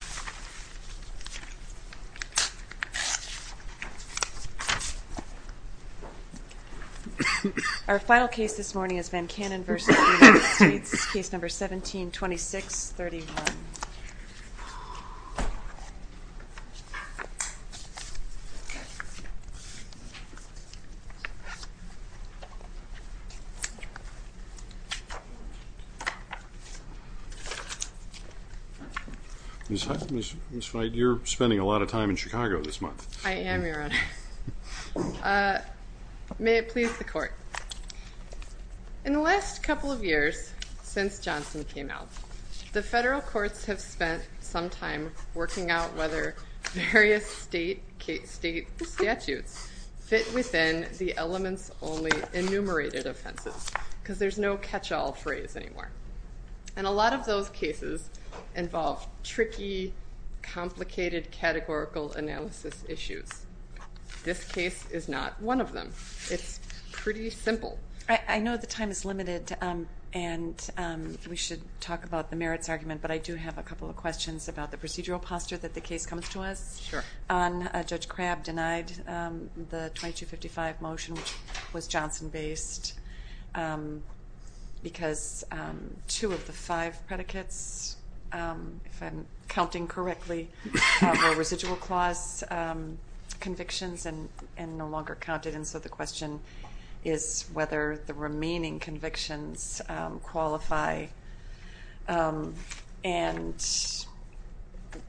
1726.31 Our final case this morning is Van Cannon v. United States, case number 1726.31. Ms. White, you're spending a lot of time in Chicago this month. I am, Your Honor. May it please the Court, in the last couple of years since Johnson came out, the federal courts have spent some time working out whether various state statutes fit within the elements-only enumerated offenses, because there's no catch-all phrase anymore. And a lot of those cases involve tricky, complicated categorical analysis issues. This case is not one of them. It's pretty simple. I know the time is limited, and we should talk about the merits argument, but I do have a couple of questions about the procedural posture that the case comes to us on. Judge Crabb denied the 2255 motion, which was Johnson-based, because two of the five predicates, if I'm counting correctly, were residual clause convictions and no longer counted. And so the question is whether the remaining convictions qualify. And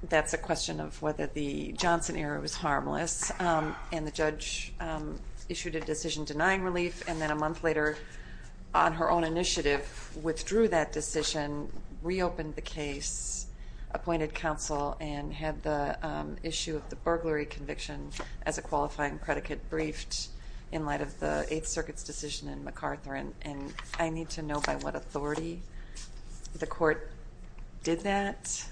that's a question of whether the Johnson era was harmless, and the judge issued a decision denying relief, and then a month later, on her own initiative, withdrew that decision, reopened the case, appointed counsel, and had the issue of the burglary conviction as a qualifying predicate briefed in light of the Eighth Circuit's decision in MacArthur. And I need to know by what authority the court did that,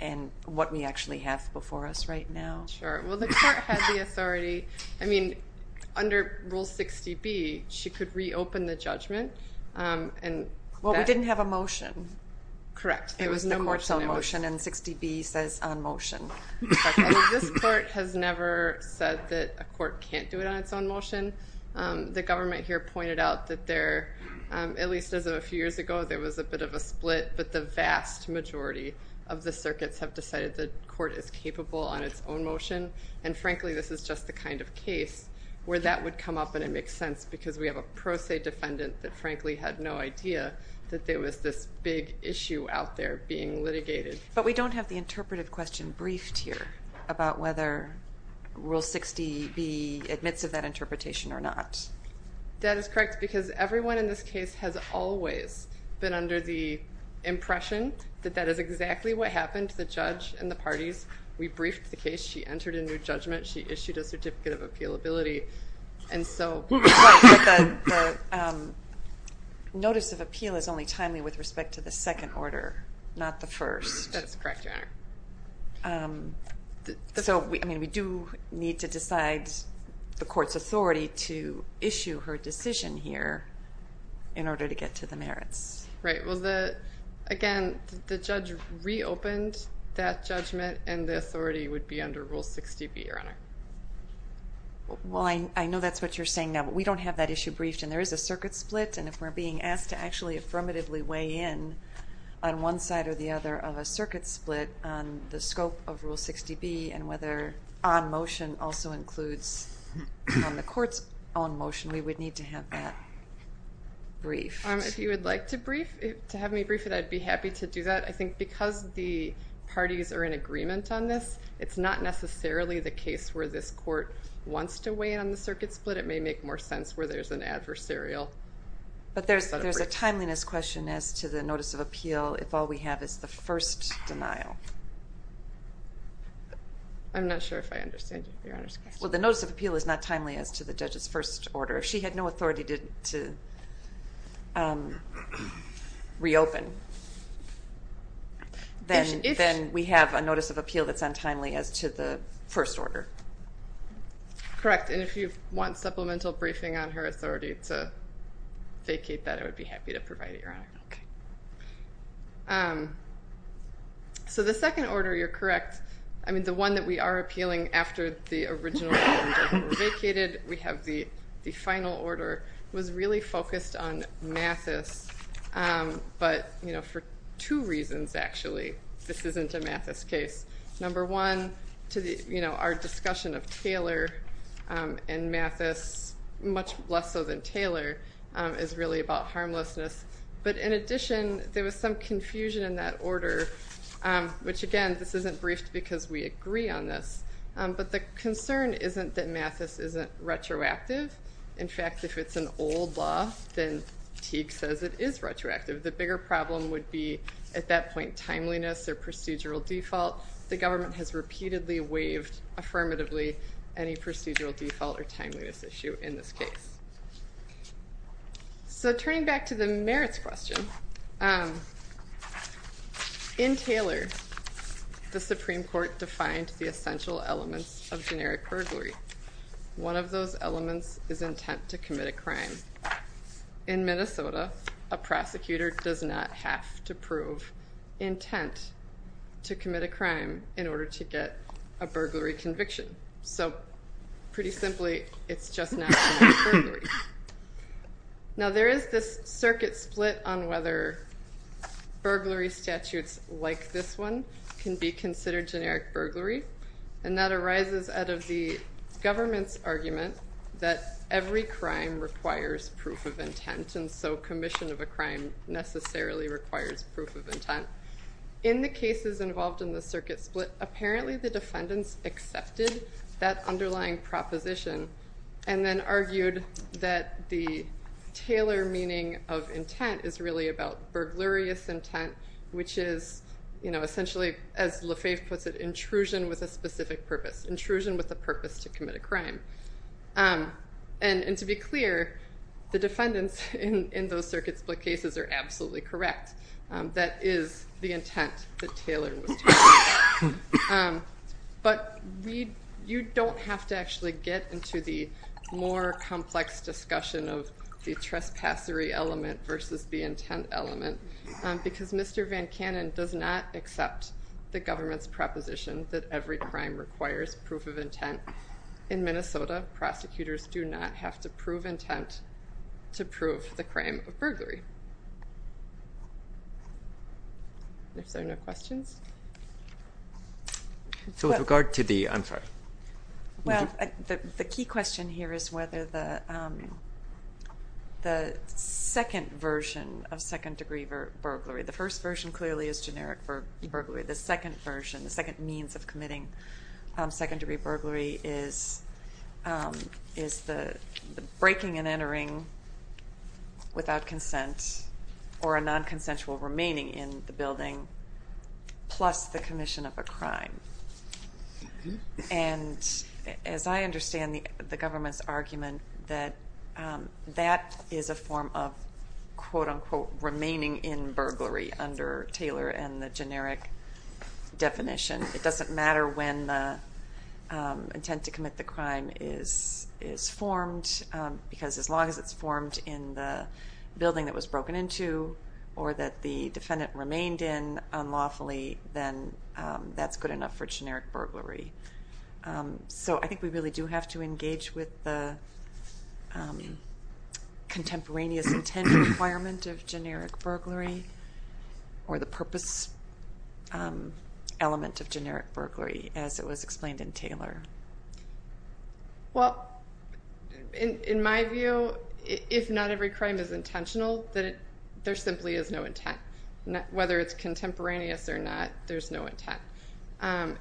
and what we actually have before us right now. Sure. Well, the court had the authority. I mean, under Rule 60B, she could reopen the judgment, and that- Well, we didn't have a motion. Correct. There was no motion. It was a motion, and 60B says on motion. This court has never said that a court can't do it on its own motion. The government here pointed out that there, at least as of a few years ago, there was a bit of a split, but the vast majority of the circuits have decided the court is capable on its own motion. And frankly, this is just the kind of case where that would come up and it makes sense, because we have a pro se defendant that frankly had no idea that there was this big issue out there being litigated. But we don't have the interpretive question briefed here about whether Rule 60B admits of that interpretation or not. That is correct, because everyone in this case has always been under the impression that that is exactly what happened to the judge and the parties. We briefed the case. She entered a new judgment. She issued a certificate of appealability. And so- Well, but the notice of appeal is only timely with respect to the second order, not the first. That is correct, Your Honor. So we do need to decide the court's authority to issue her decision here in order to get to the merits. Right. Well, again, the judge reopened that judgment, and the authority would be under Rule 60B, Your Honor. Well, I know that's what you're saying now. We don't have that issue briefed, and there is a circuit split, and if we're being asked to actually affirmatively weigh in on one side or the other of a circuit split on the scope of Rule 60B and whether on motion also includes on the court's own motion, we would need to have that briefed. If you would like to brief, to have me brief it, I'd be happy to do that. I think because the parties are in agreement on this, it's not necessarily the case where this court wants to weigh in on the circuit split. It may make more sense where there's an adversarial. But there's a timeliness question as to the Notice of Appeal if all we have is the first denial. I'm not sure if I understand Your Honor's question. Well, the Notice of Appeal is not timely as to the judge's first order. If she had no authority to reopen, then we have a Notice of Appeal that's untimely as to the first order. Correct. And if you want supplemental briefing on her authority to vacate that, I would be happy to provide it, Your Honor. So the second order, you're correct, I mean, the one that we are appealing after the original order was vacated, we have the final order, was really focused on Mathis. But for two reasons, actually, this isn't a Mathis case. Number one, our discussion of Taylor and Mathis, much less so than Taylor, is really about harmlessness. But in addition, there was some confusion in that order, which again, this isn't briefed because we agree on this. But the concern isn't that Mathis isn't retroactive. In fact, if it's an old law, then Teague says it is retroactive. The bigger problem would be, at that point, timeliness or procedural default. The government has repeatedly waived affirmatively any procedural default or timeliness issue in this case. So turning back to the merits question, in Taylor, the Supreme Court defined the essential elements of generic burglary. One of those elements is intent to commit a crime. In Minnesota, a prosecutor does not have to prove intent to commit a crime in order to get a burglary conviction. So pretty simply, it's just not generic burglary. Now there is this circuit split on whether burglary statutes like this one can be considered generic burglary. And that arises out of the government's argument that every crime requires proof of intent, and so commission of a crime necessarily requires proof of intent. In the cases involved in the circuit split, apparently the defendants accepted that underlying proposition, and then argued that the Taylor meaning of intent is really about burglarious intent, which is essentially, as Lefebvre puts it, intrusion with a specific purpose. Intrusion with a purpose to commit a crime. And to be clear, the defendants in those circuit split cases are absolutely correct. That is the intent that Taylor was talking about. But you don't have to actually get into the more complex discussion of the trespassery element versus the intent element, because Mr. Van Cannon does not accept the government's proposition that every crime requires proof of intent. In Minnesota, prosecutors do not have to prove intent to prove the crime of burglary. If there are no questions? So with regard to the, I'm sorry. The key question here is whether the second version of second degree burglary, the first version clearly is generic for burglary, the second version, the second means of committing second degree burglary is the breaking and entering without consent, or a non-consensual remaining in the building, plus the commission of a crime. And as I understand the government's argument that that is a form of, quote unquote, remaining in burglary under Taylor and the generic definition, it doesn't matter when the intent to commit the crime is formed, because as long as it's formed in the building that it was broken into, or that the defendant remained in unlawfully, then that's good enough for generic burglary. So I think we really do have to engage with the contemporaneous intent requirement of generic burglary, or the purpose element of generic burglary, as it was explained in Taylor. Well, in my view, if not every crime is intentional, then there simply is no intent. Whether it's contemporaneous or not, there's no intent.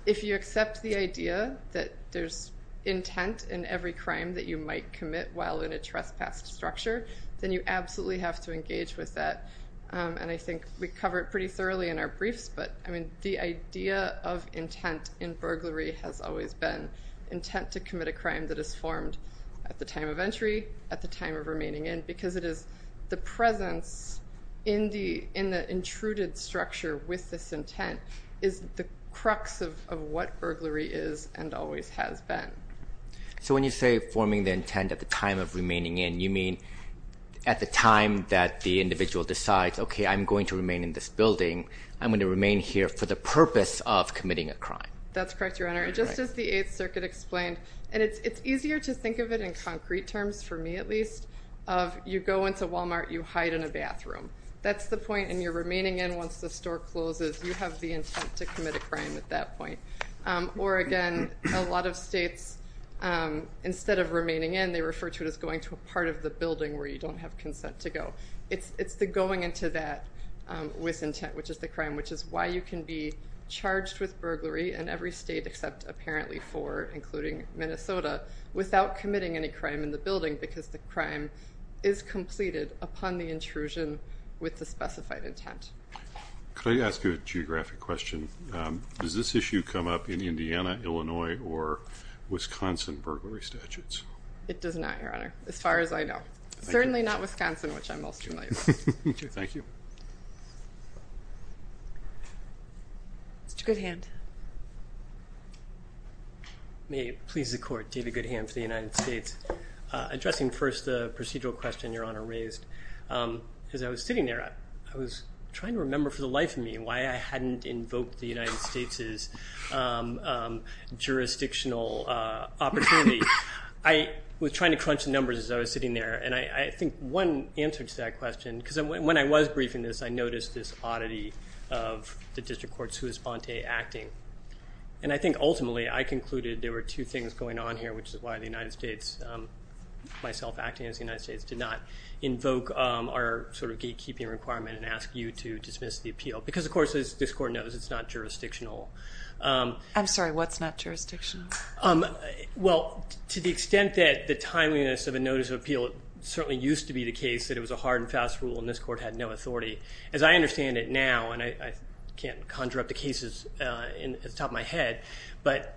If you accept the idea that there's intent in every crime that you might commit while in a trespass structure, then you absolutely have to engage with that, and I think we cover it pretty thoroughly in our briefs, but the idea of intent in burglary has always been intent to commit a crime that is formed at the time of entry, at the time of remaining in, because the presence in the intruded structure with this intent is the crux of what burglary is and always has been. So when you say forming the intent at the time of remaining in, you mean at the time that the individual decides, okay, I'm going to remain in this building, I'm going to remain here for the purpose of committing a crime. That's correct, Your Honor. Just as the Eighth Circuit explained, and it's easier to think of it in concrete terms, for me at least, of you go into Walmart, you hide in a bathroom. That's the point, and you're remaining in once the store closes. You have the intent to commit a crime at that point. Or again, a lot of states, instead of remaining in, they refer to it as going to a part of the building where you don't have consent to go. It's the going into that with intent, which is the crime, which is why you can be charged with burglary in every state except apparently four, including Minnesota, without committing any crime in the building, because the crime is completed upon the intrusion with the specified intent. Could I ask you a geographic question? Does this issue come up in Indiana, Illinois, or Wisconsin burglary statutes? It does not, Your Honor. As far as I know. Thank you. Certainly not Wisconsin, which I'm most familiar with. Okay. Thank you. Mr. Goodhand. May it please the Court, David Goodhand for the United States. Addressing first the procedural question Your Honor raised, as I was sitting there, I was trying to remember for the life of me why I hadn't invoked the United States' jurisdictional opportunity. I was trying to crunch the numbers as I was sitting there, and I think one answer to that question, because when I was briefing this, I noticed this oddity of the district courts who is Fonte acting. And I think ultimately I concluded there were two things going on here, which is why the United States, myself acting as the United States, did not invoke our sort of gatekeeping requirement and ask you to dismiss the appeal. Because of course, as this Court knows, it's not jurisdictional. I'm sorry. What's not jurisdictional? Well, to the extent that the timeliness of a notice of appeal, it certainly used to be the case that it was a hard and fast rule, and this Court had no authority. As I understand it now, and I can't conjure up the cases off the top of my head, but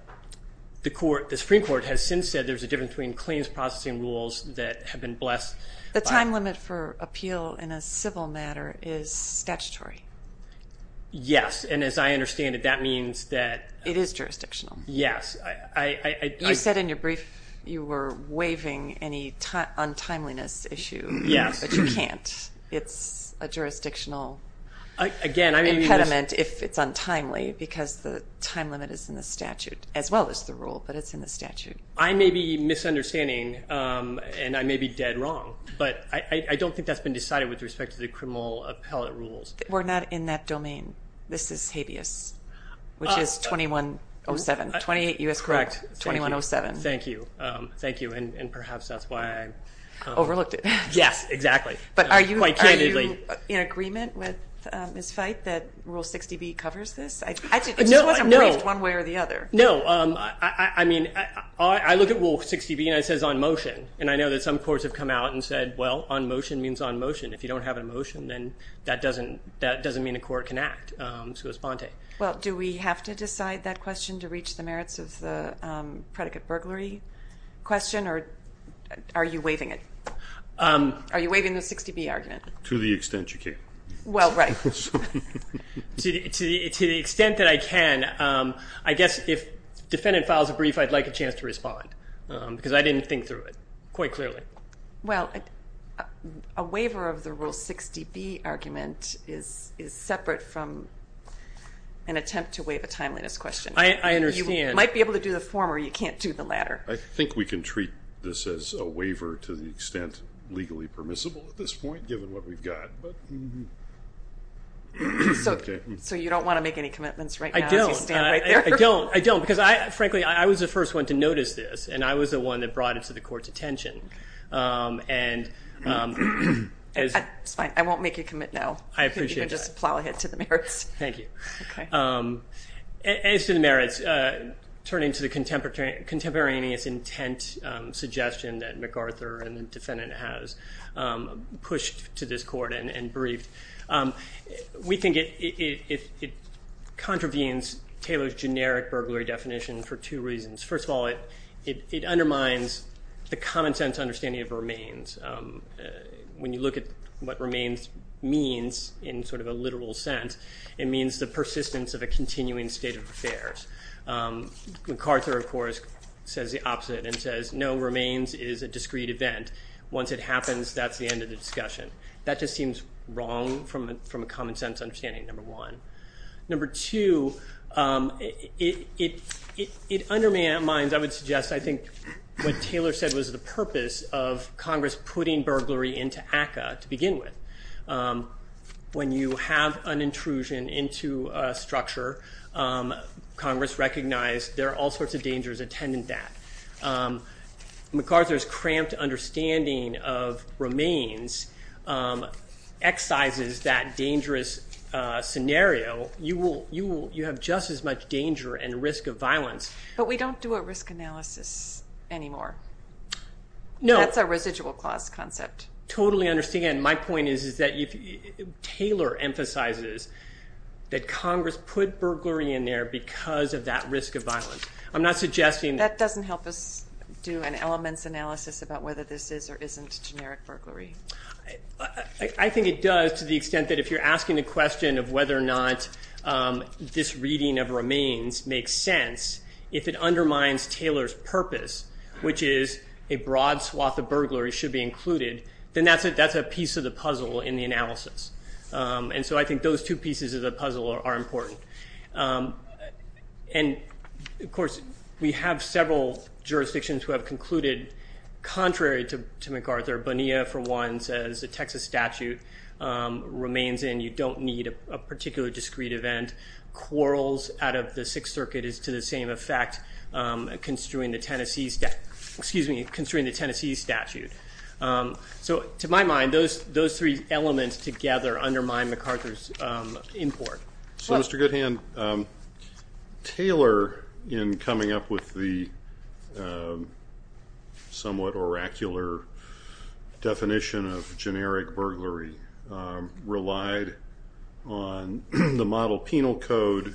the Supreme Court has since said there's a difference between claims processing rules that have been blessed. The time limit for appeal in a civil matter is statutory. Yes. And as I understand it, that means that- It is jurisdictional. Yes. You said in your brief you were waiving any untimeliness issue, but you can't. It's a jurisdictional impediment if it's untimely, because the time limit is in the statute, as well as the rule, but it's in the statute. I may be misunderstanding, and I may be dead wrong, but I don't think that's been decided with respect to the criminal appellate rules. We're not in that domain. This is habeas, which is 2107, 28 U.S. correct, 2107. Thank you. Thank you. And perhaps that's why I- Overlooked it. Yes. Exactly. Quite candidly. But are you in agreement with Ms. Fite that Rule 60B covers this? I just wasn't briefed one way or the other. No. No. No. I mean, I look at Rule 60B, and it says on motion, and I know that some courts have come out and said, well, on motion means on motion. If you don't have a motion, then that doesn't mean a court can act, so it's ponte. Well, do we have to decide that question to reach the merits of the predicate burglary question, or are you waiving it? Are you waiving the 60B argument? To the extent you can. Well, right. To the extent that I can, I guess if defendant files a brief, I'd like a chance to respond, because I didn't think through it quite clearly. Well, a waiver of the Rule 60B argument is separate from an attempt to waive a timeliness question. I understand. You might be able to do the former. You can't do the latter. I think we can treat this as a waiver to the extent legally permissible at this point, given what we've got. So you don't want to make any commitments right now as you stand right there? I don't. I don't. Because, frankly, I was the first one to notice this, and I was the one that brought it to the court's attention. It's fine. I won't make you commit now. I appreciate that. You can just plow ahead to the merits. Thank you. As to the merits, turning to the contemporaneous intent suggestion that MacArthur and the defendant has pushed to this court and briefed, we think it contravenes Taylor's generic burglary definition for two reasons. First of all, it undermines the common sense understanding of remains. When you look at what remains means in sort of a literal sense, it means the persistence of a continuing state of affairs. MacArthur, of course, says the opposite and says, no, remains is a discrete event. Once it happens, that's the end of the discussion. That just seems wrong from a common sense understanding, number one. Number two, it undermines, I would suggest, I think what Taylor said was the purpose of Congress putting burglary into ACCA to begin with. When you have an intrusion into a structure, Congress recognized there are all sorts of dangers attendant that. MacArthur's cramped understanding of remains excises that dangerous scenario. You have just as much danger and risk of violence. But we don't do a risk analysis anymore. No. That's a residual clause concept. Totally understand. My point is that Taylor emphasizes that Congress put burglary in there because of that risk of violence. I'm not suggesting- That doesn't help us do an elements analysis about whether this is or isn't generic burglary. I think it does to the extent that if you're asking the question of whether or not this reading of remains makes sense, if it undermines Taylor's purpose, which is a broad swath of burglary should be included, then that's a piece of the puzzle in the analysis. And so I think those two pieces of the puzzle are important. And, of course, we have several jurisdictions who have concluded, contrary to MacArthur, Bonilla for one says the Texas statute remains in. You don't need a particular discreet event. Quarrels out of the Sixth Circuit is to the same effect, construing the Tennessee statute. So to my mind, those three elements together undermine MacArthur's import. So, Mr. Goodhand, Taylor, in coming up with the somewhat oracular definition of generic burglary, relied on the model penal code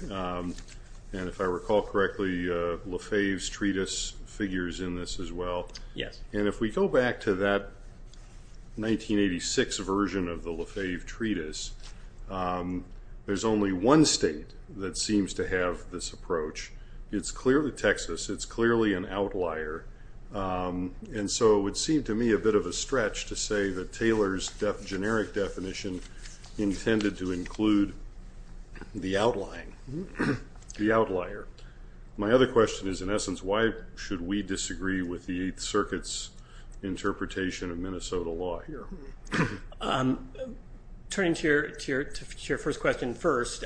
and, if I recall correctly, Lefebvre's treatise figures in this as well. Yes. And if we go back to that 1986 version of the Lefebvre treatise, there's only one state that seems to have this approach. It's clearly Texas. It's clearly an outlier. And so it would seem to me a bit of a stretch to say that Taylor's generic definition intended to include the outlying, the outlier. My other question is, in essence, why should we disagree with the Eighth Circuit's interpretation of Minnesota law here? Turning to your first question first,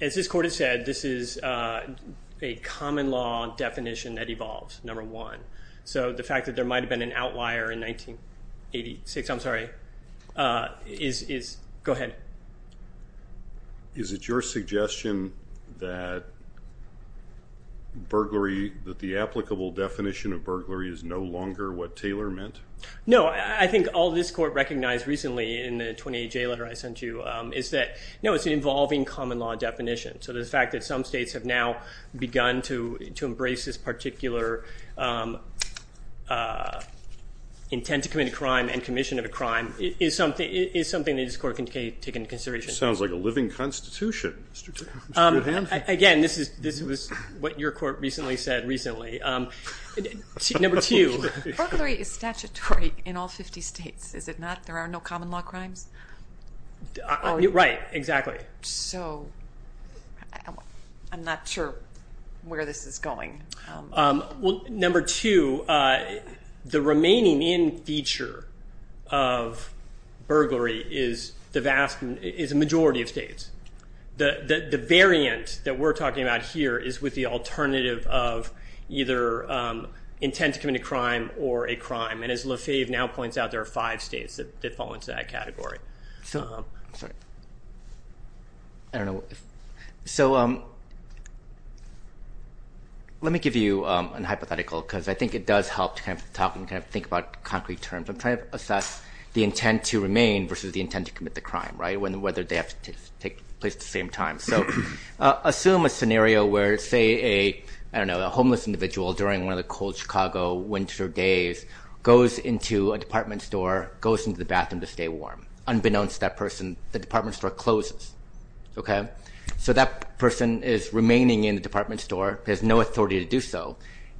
as this court has said, this is a common law definition that evolves, number one. So the fact that there might have been an outlier in 1986, I'm sorry, is, go ahead. Is it your suggestion that burglary, that the applicable definition of burglary is no longer what Taylor meant? No. I think all this court recognized recently in the 28J letter I sent you is that, no, it's an evolving common law definition. So the fact that some states have now begun to embrace this particular intent to commit a crime and commission of a crime is something that this court can take into consideration. Sounds like a living constitution, Mr. Hanford. Again, this is what your court recently said, recently. Number two. Burglary is statutory in all 50 states, is it not? There are no common law crimes? So I'm not sure where this is going. Well, number two, the remaining in feature of burglary is a majority of states. The variant that we're talking about here is with the alternative of either intent to commit a crime or a crime, and as LaFave now points out, there are five states that fall into that category. I'm sorry. I don't know. So let me give you a hypothetical, because I think it does help to kind of think about concrete terms. I'm trying to assess the intent to remain versus the intent to commit the crime, whether they have to take place at the same time. So assume a scenario where, say, a homeless individual during one of the cold Chicago winter days goes into a department store, goes into the bathroom to stay warm. Unbeknownst to that person, the department store closes. So that person is remaining in the department store, has no authority to do so,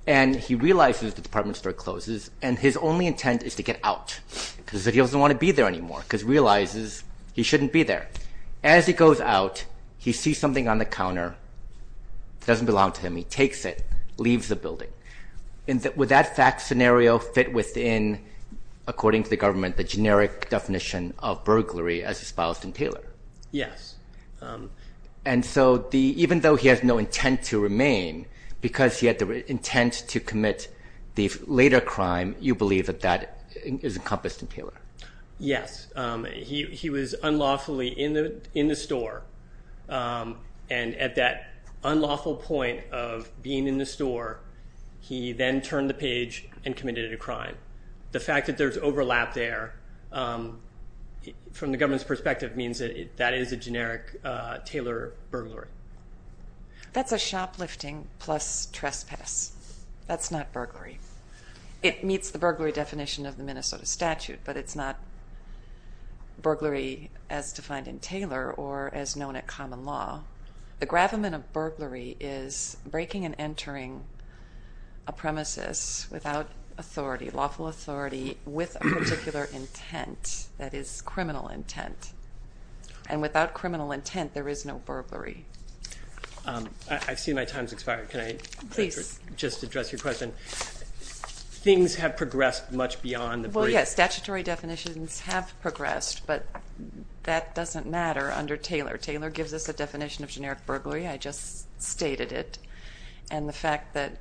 and he realizes the department store closes, and his only intent is to get out because he doesn't want to be there anymore, because he realizes he shouldn't be there. As he goes out, he sees something on the counter that doesn't belong to him. He takes it, leaves the building. Would that fact scenario fit within, according to the government, the generic definition of burglary as espoused in Taylor? Yes. And so even though he has no intent to remain, because he had the intent to commit the later crime, you believe that that is encompassed in Taylor? Yes. He was unlawfully in the store, and at that unlawful point of being in the store, he then turned the page and committed a crime. The fact that there's overlap there, from the government's perspective, means that is a generic Taylor burglary. That's a shoplifting plus trespass. That's not burglary. It meets the burglary definition of the Minnesota statute, but it's not burglary as defined in Taylor or as known at common law. The gravamen of burglary is breaking and entering a premises without authority, lawful authority, with a particular intent that is criminal intent. And without criminal intent, there is no burglary. I see my time's expired. Can I just address your question? Things have progressed much beyond the brief. Well, yes, statutory definitions have progressed, but that doesn't matter under Taylor. Taylor gives us a definition of generic burglary. I just stated it. And the fact that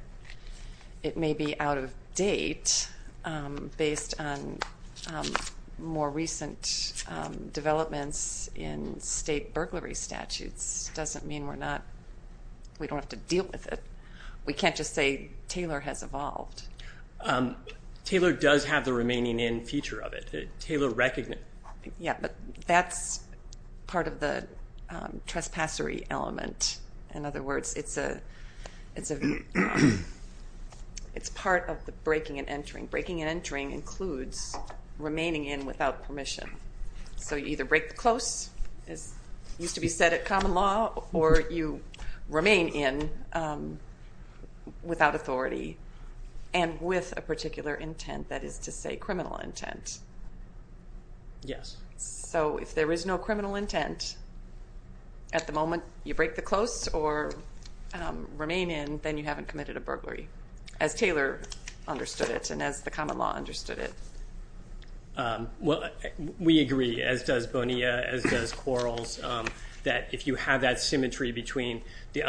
it may be out of date based on more recent developments in state burglary statutes doesn't mean we're not, we don't have to deal with it. We can't just say Taylor has evolved. Taylor does have the remaining in feature of it. Taylor recognized it. Yeah, but that's part of the trespassery element. In other words, it's a, it's part of the breaking and entering. Breaking and entering includes remaining in without permission. So you either break the close, as used to be said at common law, or you remain in without authority and with a particular intent, that is to say criminal intent. Yes. So if there is no criminal intent, at the moment you break the close or remain in, then you haven't committed a burglary, as Taylor understood it and as the common law understood it. Well, we agree, as does Bonilla, as does Quarles, that if you have that symmetry between the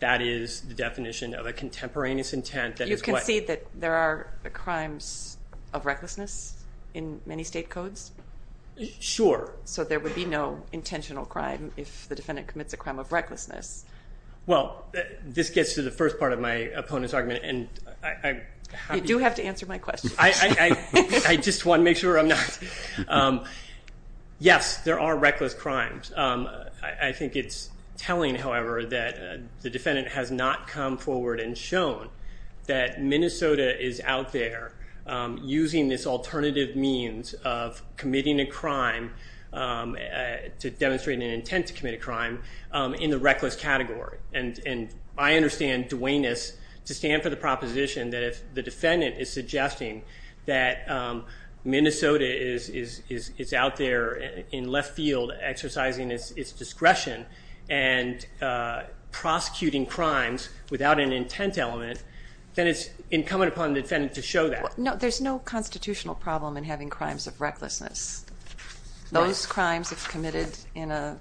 that is the definition of a contemporaneous intent that is what- You concede that there are crimes of recklessness in many state codes? Sure. So there would be no intentional crime if the defendant commits a crime of recklessness? Well, this gets to the first part of my opponent's argument and I- You do have to answer my question. I just want to make sure I'm not, yes, there are reckless crimes. I think it's telling, however, that the defendant has not come forward and shown that Minnesota is out there using this alternative means of committing a crime to demonstrate an intent to commit a crime in the reckless category and I understand Dwayne's to stand for the proposition that if the defendant is suggesting that Minnesota is out there in left field exercising its discretion and prosecuting crimes without an intent element, then it's incumbent upon the defendant to show that. No, there's no constitutional problem in having crimes of recklessness. Those crimes if committed in a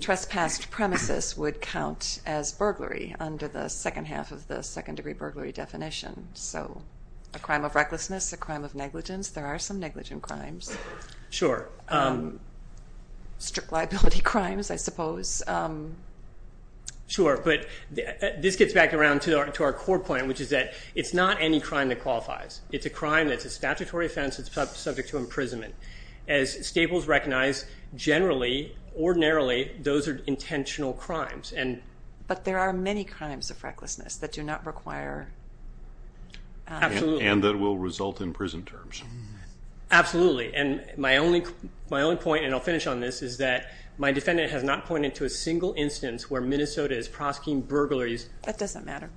trespassed premises would count as burglary under the second half of the second degree burglary definition. So a crime of recklessness, a crime of negligence, there are some negligent crimes. Sure. Strict liability crimes, I suppose. Sure, but this gets back around to our core point, which is that it's not any crime that qualifies. It's a crime that's a statutory offense that's subject to imprisonment. As Staples recognized, generally, ordinarily, those are intentional crimes. But there are many crimes of recklessness that do not require- Absolutely. And that will result in prison terms. Absolutely. And my only point, and I'll finish on this, is that my defendant has not pointed to a single instance where Minnesota is prosecuting burglaries- That doesn't matter.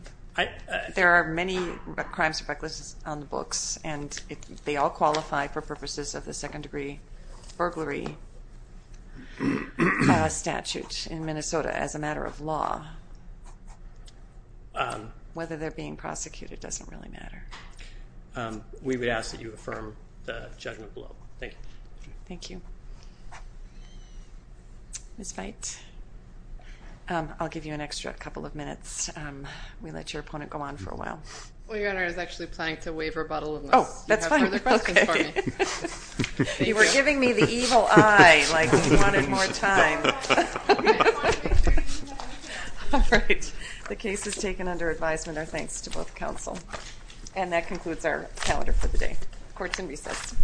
There are many crimes of recklessness on the books, and they all qualify for purposes of the second degree burglary statute in Minnesota as a matter of law. Whether they're being prosecuted doesn't really matter. We would ask that you affirm the judgment below. Thank you. Thank you. Ms. Veit, I'll give you an extra couple of minutes. We let your opponent go on for a while. Well, Your Honor, I was actually planning to waive rebuttal unless you have further questions for me. Oh, that's fine. Okay. Thank you. You were giving me the evil eye, like you wanted more time. Okay, fine. Thank you. All right. The case is taken under advisement, our thanks to both counsel. And that concludes our calendar for the day. Court is in recess.